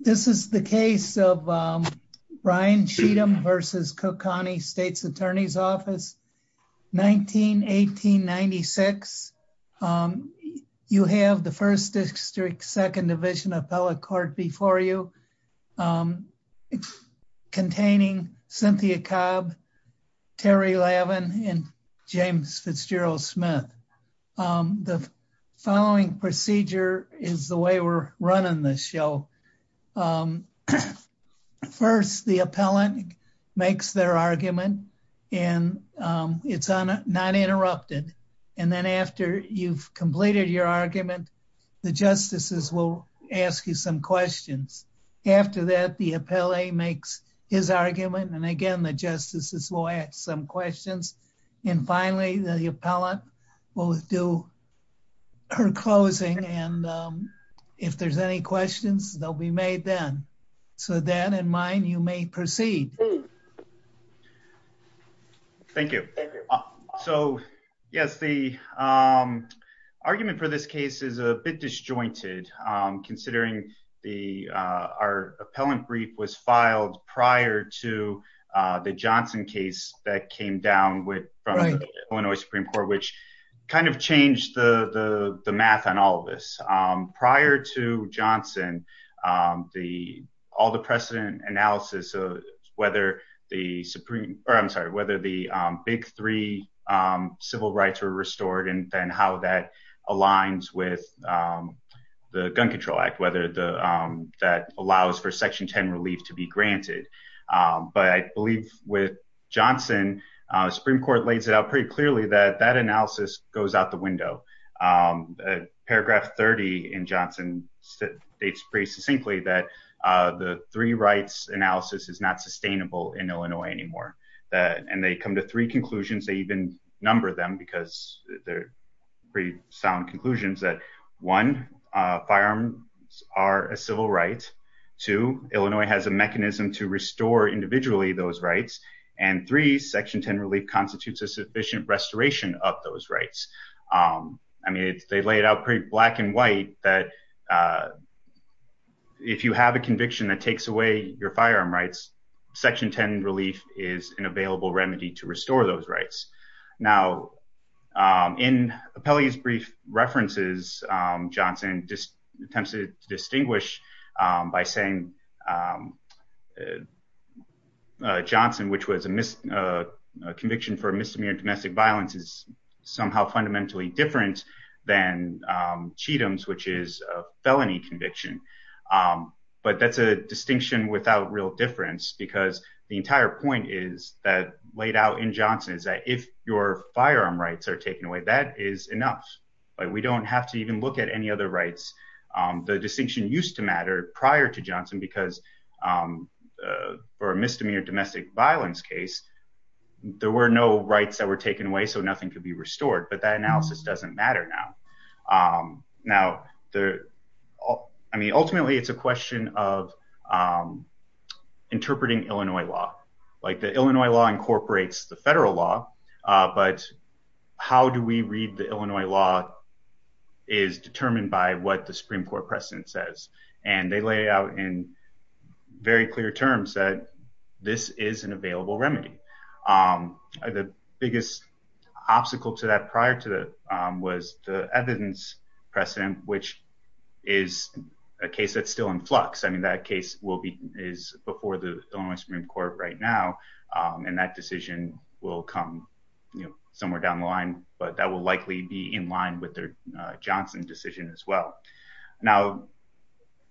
This is the case of Ryan Sheetum v. Cook County State's Attorney's Office, 1918-1996. You have the 1st District, 2nd Division appellate court before you, containing Cynthia Cobb, Terry Lavin, and James Fitzgerald Smith. The following procedure is the way we're running this show. First, the appellant makes their argument, and it's not interrupted. And then after you've completed your argument, the justices will ask you some questions. After that, the appellate makes his argument, and again, the justices will ask some questions. And finally, the appellate will do her closing, and if there's any questions, they'll be made then. So with that in mind, you may proceed. Thank you. So yes, the argument for this case is a bit disjointed, considering our appellant brief was filed prior to the Johnson case that came down from the Illinois Supreme Court, which kind of changed the math on all of this. Prior to Johnson, all the precedent analysis of whether the big three civil rights were restored and then how that aligns with the Gun Control Act, whether that allows for Section 10 relief to be granted. But I believe with Johnson, the Supreme Court lays it out pretty clearly that that analysis goes out the window. Paragraph 30 in Johnson states pretty succinctly that the three rights analysis is not sustainable in Illinois anymore. And they come to three conclusions. They even number them because they're pretty sound conclusions that, one, firearms are a civil right. Two, Illinois has a mechanism to restore individually those rights. And three, Section 10 relief constitutes a sufficient restoration of those rights. I mean, they lay it out pretty black and white that if you have a conviction that takes away your firearm rights, Section 10 relief is an available remedy to restore those rights. Now, in Appellee's brief references, Johnson attempts to distinguish by saying Johnson, which was a conviction for misdemeanor domestic violence, is somehow fundamentally different than Cheatham's, which is a felony conviction. But that's a distinction without real difference because the entire point is that laid out in Johnson is that if your firearm rights are taken away, that is enough. We don't have to even look at any other rights. The distinction used to matter prior to Johnson because for a misdemeanor domestic violence case, there were no rights that were taken away, so nothing could be restored. But that analysis doesn't matter now. Now, I mean, ultimately, it's a question of interpreting Illinois law, like the Illinois law incorporates the federal law. But how do we read the Illinois law is determined by what the Supreme Court precedent says. And they lay out in very clear terms that this is an available remedy. The biggest obstacle to that prior to that was the evidence precedent, which is a case that's still in flux. I mean, that case will be is before the Supreme Court right now. And that decision will come somewhere down the line. But that will likely be in line with their Johnson decision as well. Now,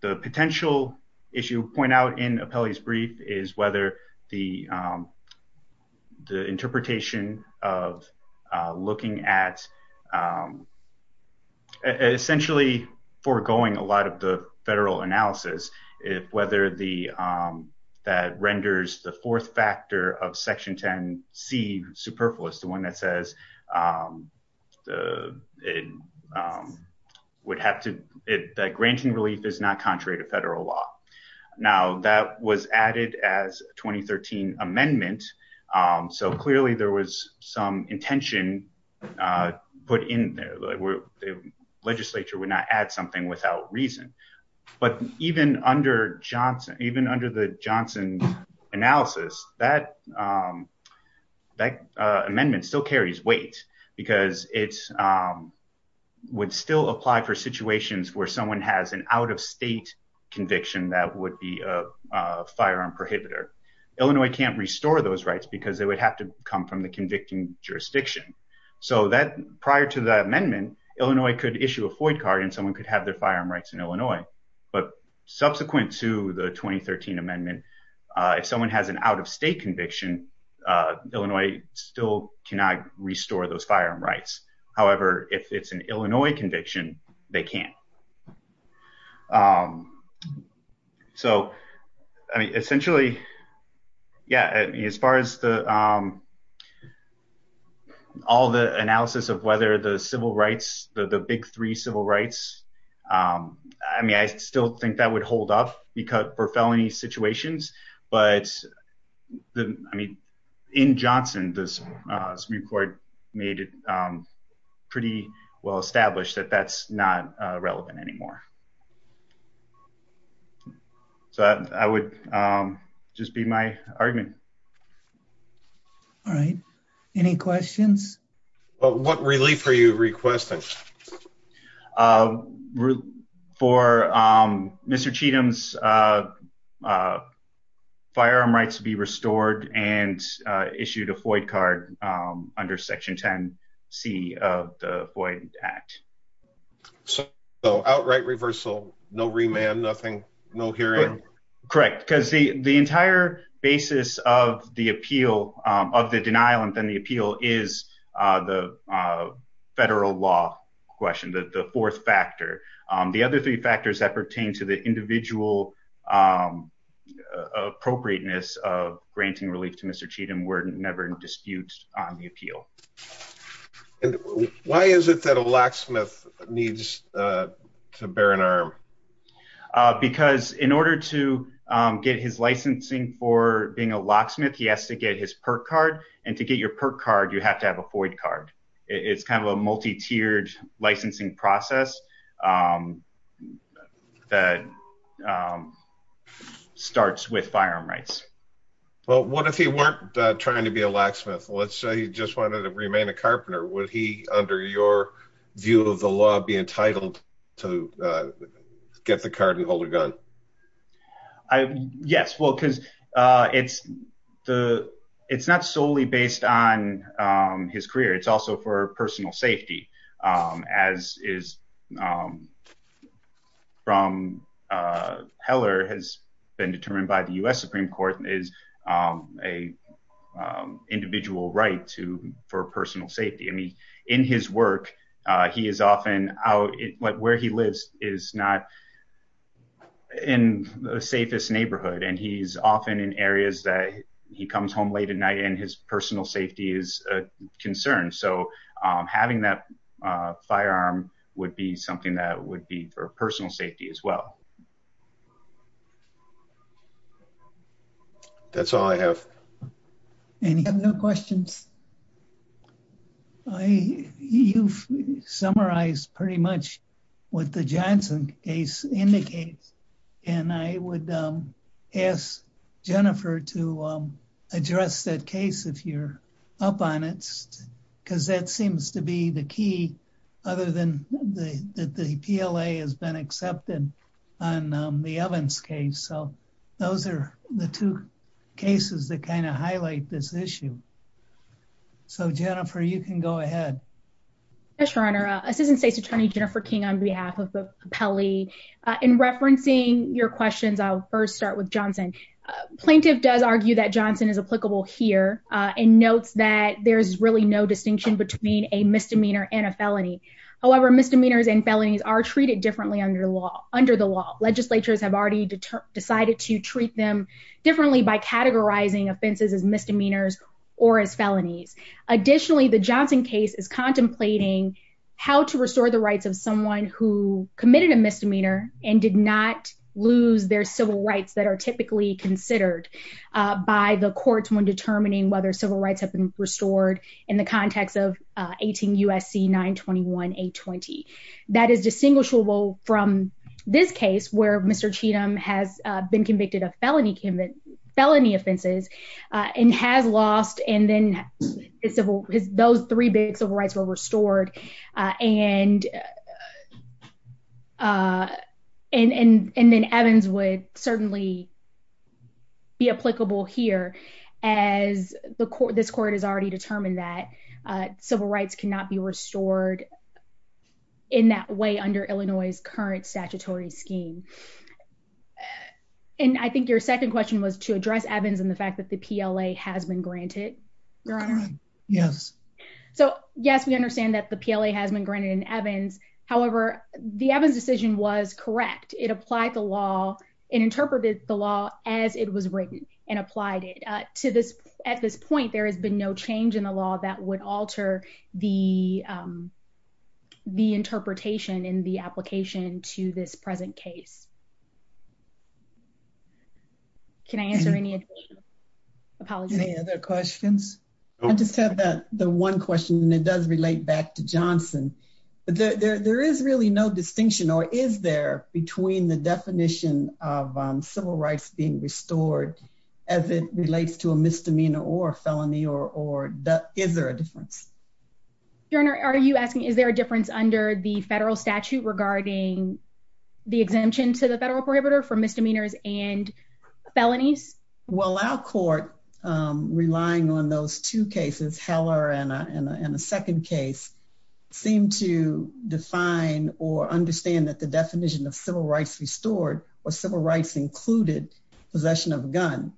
the potential issue point out in a police brief is whether the. The interpretation of looking at. Essentially foregoing a lot of the federal analysis, if whether the that renders the fourth factor of Section 10 C superfluous, the one that says the would have to be granting relief is not contrary to federal law. Now, that was added as 2013 amendment. So clearly there was some intention put in there. The legislature would not add something without reason. But even under Johnson, even under the Johnson analysis, that that amendment still carries weight because it's would still apply for situations where someone has an out of state conviction. That would be a firearm prohibitor. Illinois can't restore those rights because they would have to come from the convicting jurisdiction. So that prior to the amendment, Illinois could issue a FOIA card and someone could have their firearm rights in Illinois. But subsequent to the 2013 amendment, if someone has an out of state conviction, Illinois still cannot restore those firearm rights. However, if it's an Illinois conviction, they can't. So, I mean, essentially. Yeah, as far as the. All the analysis of whether the civil rights, the big three civil rights. I mean, I still think that would hold up because for felony situations. But I mean, in Johnson, this report made it pretty well established that that's not relevant anymore. So I would just be my argument. All right. Any questions? What relief are you requesting for Mr. Cheatham's firearm rights to be restored and issued a FOIA card under Section 10 C of the FOIA Act. So outright reversal, no remand, nothing. No hearing. Correct. Because the entire basis of the appeal of the denial and then the appeal is the federal law question, the fourth factor. The other three factors that pertain to the individual appropriateness of granting relief to Mr. Cheatham were never in dispute on the appeal. Why is it that a locksmith needs to bear an arm? Because in order to get his licensing for being a locksmith, he has to get his perk card. And to get your perk card, you have to have a FOIA card. It's kind of a multi tiered licensing process that starts with firearm rights. Well, what if he weren't trying to be a locksmith? Let's say you just wanted to remain a carpenter. Would he, under your view of the law, be entitled to get the card and hold a gun? Yes. Well, because it's the it's not solely based on his career. It's also for personal safety, as is from Heller has been determined by the U.S. Supreme Court is a individual right to for personal safety. I mean, in his work, he is often out where he lives is not in the safest neighborhood. And he's often in areas that he comes home late at night and his personal safety is a concern. So having that firearm would be something that would be for personal safety as well. That's all I have. Any questions? You've summarized pretty much what the Johnson case indicates. And I would ask Jennifer to address that case if you're up on it, because that seems to be the key other than the PLA has been accepted on the Evans case. So those are the two cases that kind of highlight this issue. So, Jennifer, you can go ahead. Yes, Your Honor. Assistant State's Attorney Jennifer King on behalf of the Pele. In referencing your questions, I'll first start with Johnson. Plaintiff does argue that Johnson is applicable here and notes that there's really no distinction between a misdemeanor and a felony. However, misdemeanors and felonies are treated differently under law under the law. Legislatures have already decided to treat them differently by categorizing offenses as misdemeanors or as felonies. Additionally, the Johnson case is contemplating how to restore the rights of someone who committed a misdemeanor and did not lose their civil rights that are typically considered by the courts. When determining whether civil rights have been restored in the context of 18 U.S.C. 921 820, that is distinguishable from this case where Mr. Cheatham has been convicted of felony, felony offenses and has lost. And I think your second question was to address Evans and the fact that the PLA has been granted. Yes. So, yes, we understand that the PLA has been granted in Evans. However, the Evans decision was correct. It applied the law and interpreted the law as it was written and applied it to this. At this point, there has been no change in the law that would alter the. The interpretation in the application to this present case. Can I answer any other questions? I just have the one question and it does relate back to Johnson. But there is really no distinction or is there between the definition of civil rights being restored as it relates to a misdemeanor or felony or is there a difference? Are you asking, is there a difference under the federal statute regarding the exemption to the federal prohibitor for misdemeanors and felonies? Well, our court relying on those two cases, Heller and a second case seem to define or understand that the definition of civil rights restored or civil rights included possession of a gun.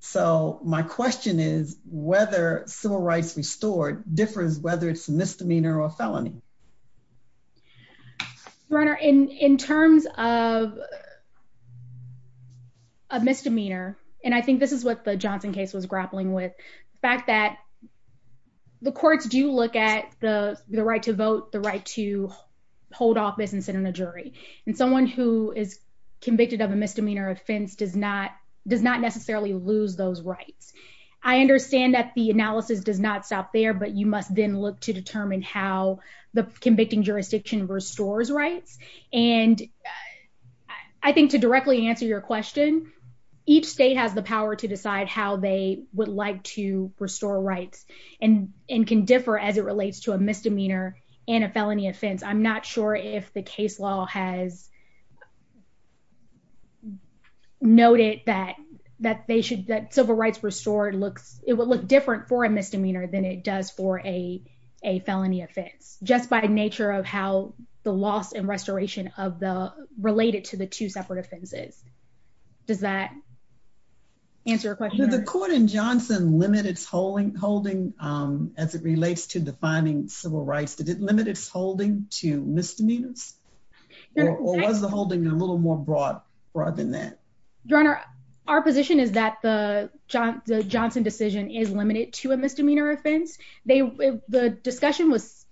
So my question is whether civil rights restored differs, whether it's a misdemeanor or felony. Runner in terms of a misdemeanor, and I think this is what the Johnson case was grappling with the fact that the courts do look at the right to vote, the right to hold office and sit in a jury. And someone who is convicted of a misdemeanor offense does not does not necessarily lose those rights. I understand that the analysis does not stop there, but you must then look to determine how the convicting jurisdiction restores rights. And I think to directly answer your question, each state has the power to decide how they would like to restore rights and can differ as it relates to a misdemeanor and a felony offense. I'm not sure if the case law has noted that that they should that civil rights restored looks, it would look different for a misdemeanor than it does for a a felony offense, just by nature of how the loss and restoration of the related to the two separate offenses. Does that answer your question? The court in Johnson limit its holding holding as it relates to defining civil rights to limit its holding to misdemeanors or was the holding a little more broad, rather than that. Your Honor, our position is that the Johnson Johnson decision is limited to a misdemeanor offense, they, the discussion was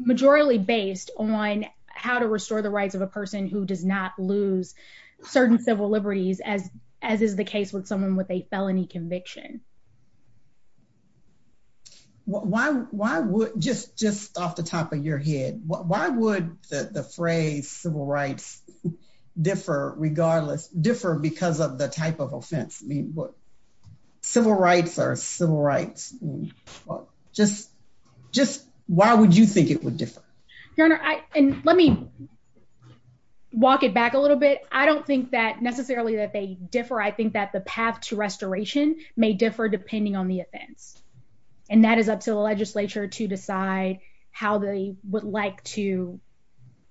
majorly based on how to restore the rights of a person who does not lose certain civil liberties as, as is the case with someone with a felony conviction. Why, why would just just off the top of your head, why would the phrase civil rights differ regardless differ because of the type of offense mean what civil rights are civil rights, just, just why would you think it would differ. Let me walk it back a little bit, I don't think that necessarily that they differ I think that the path to restoration may differ depending on the offense. And that is up to the legislature to decide how they would like to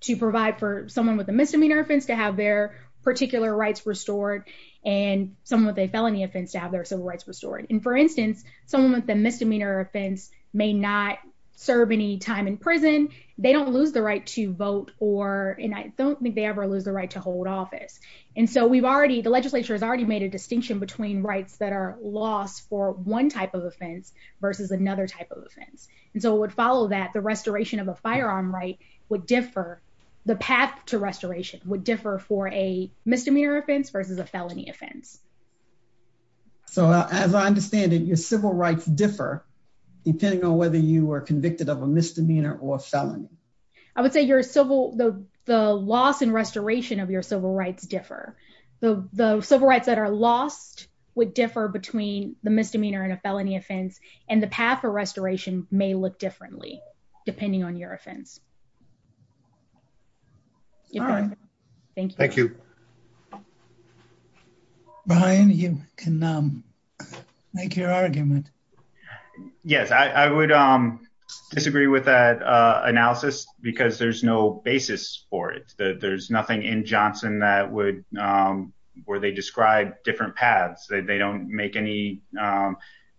to provide for someone with a misdemeanor offense to have their particular rights restored and someone with a felony offense to have their civil rights restored and for instance, someone with a misdemeanor offense may not serve any time in prison. They don't lose the right to vote or and I don't think they ever lose the right to hold office. And so we've already the legislature has already made a distinction between rights that are lost for one type of offense versus another type of offense. And so it would follow that the restoration of a firearm right would differ the path to restoration would differ for a misdemeanor offense versus a felony offense. So, as I understand it, your civil rights differ, depending on whether you are convicted of a misdemeanor or felony. I would say your civil the loss and restoration of your civil rights differ the civil rights that are lost would differ between the misdemeanor and a felony offense and the path for restoration may look differently, depending on your offense. Thank you. Brian, you can make your argument. Yes, I would disagree with that analysis, because there's no basis for it. There's nothing in Johnson that would where they describe different paths, they don't make any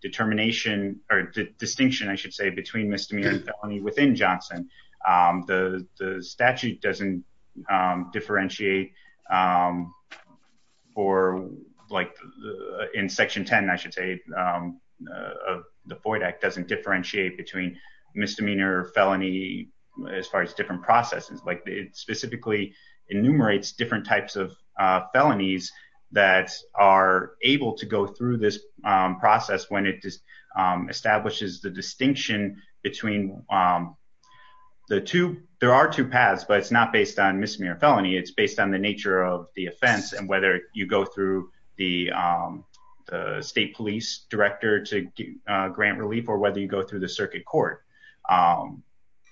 determination or distinction I should say between misdemeanor within Johnson. The statute doesn't differentiate for like in Section 10, I should say, the void Act doesn't differentiate between misdemeanor felony as far as different processes like it specifically enumerates different types of felonies that are able to go through this process when it just establishes the distinction between the two, there are two paths but it's not based on misdemeanor felony it's based on the nature of the offense and whether you go through the state police director to grant relief or whether you go through the circuit court.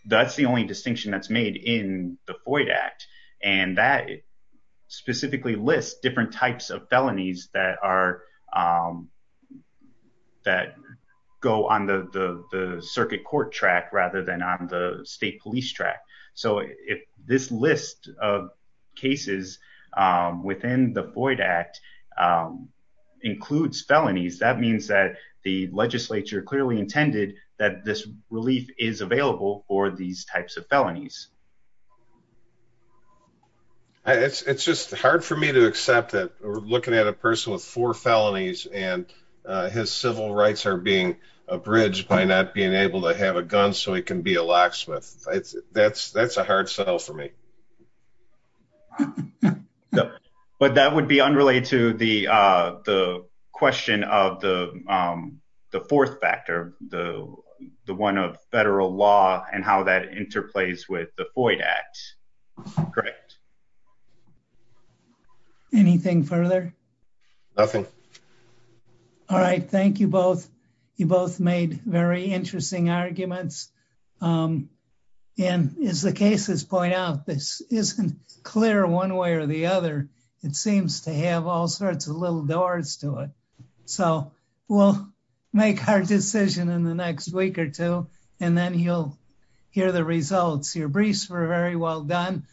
That's the only distinction that's made in the void Act, and that specifically list different types of felonies that are that go on the circuit court track rather than on the state police track. So if this list of cases within the void Act includes felonies that means that the legislature clearly intended that this relief is available for these types of felonies. It's just hard for me to accept that we're looking at a person with four felonies, and his civil rights are being abridged by not being able to have a gun so he can be a locksmith, that's that's a hard sell for me. But that would be unrelated to the, the question of the, the fourth factor, the, the one of federal law, and how that interplays with the void Act. Correct. Anything further. Okay. All right, thank you both. You both made very interesting arguments. And as the cases point out this isn't clear one way or the other, it seems to have all sorts of little doors to it. So, we'll make our decision in the next week or two, and then you'll hear the results your briefs were very well done.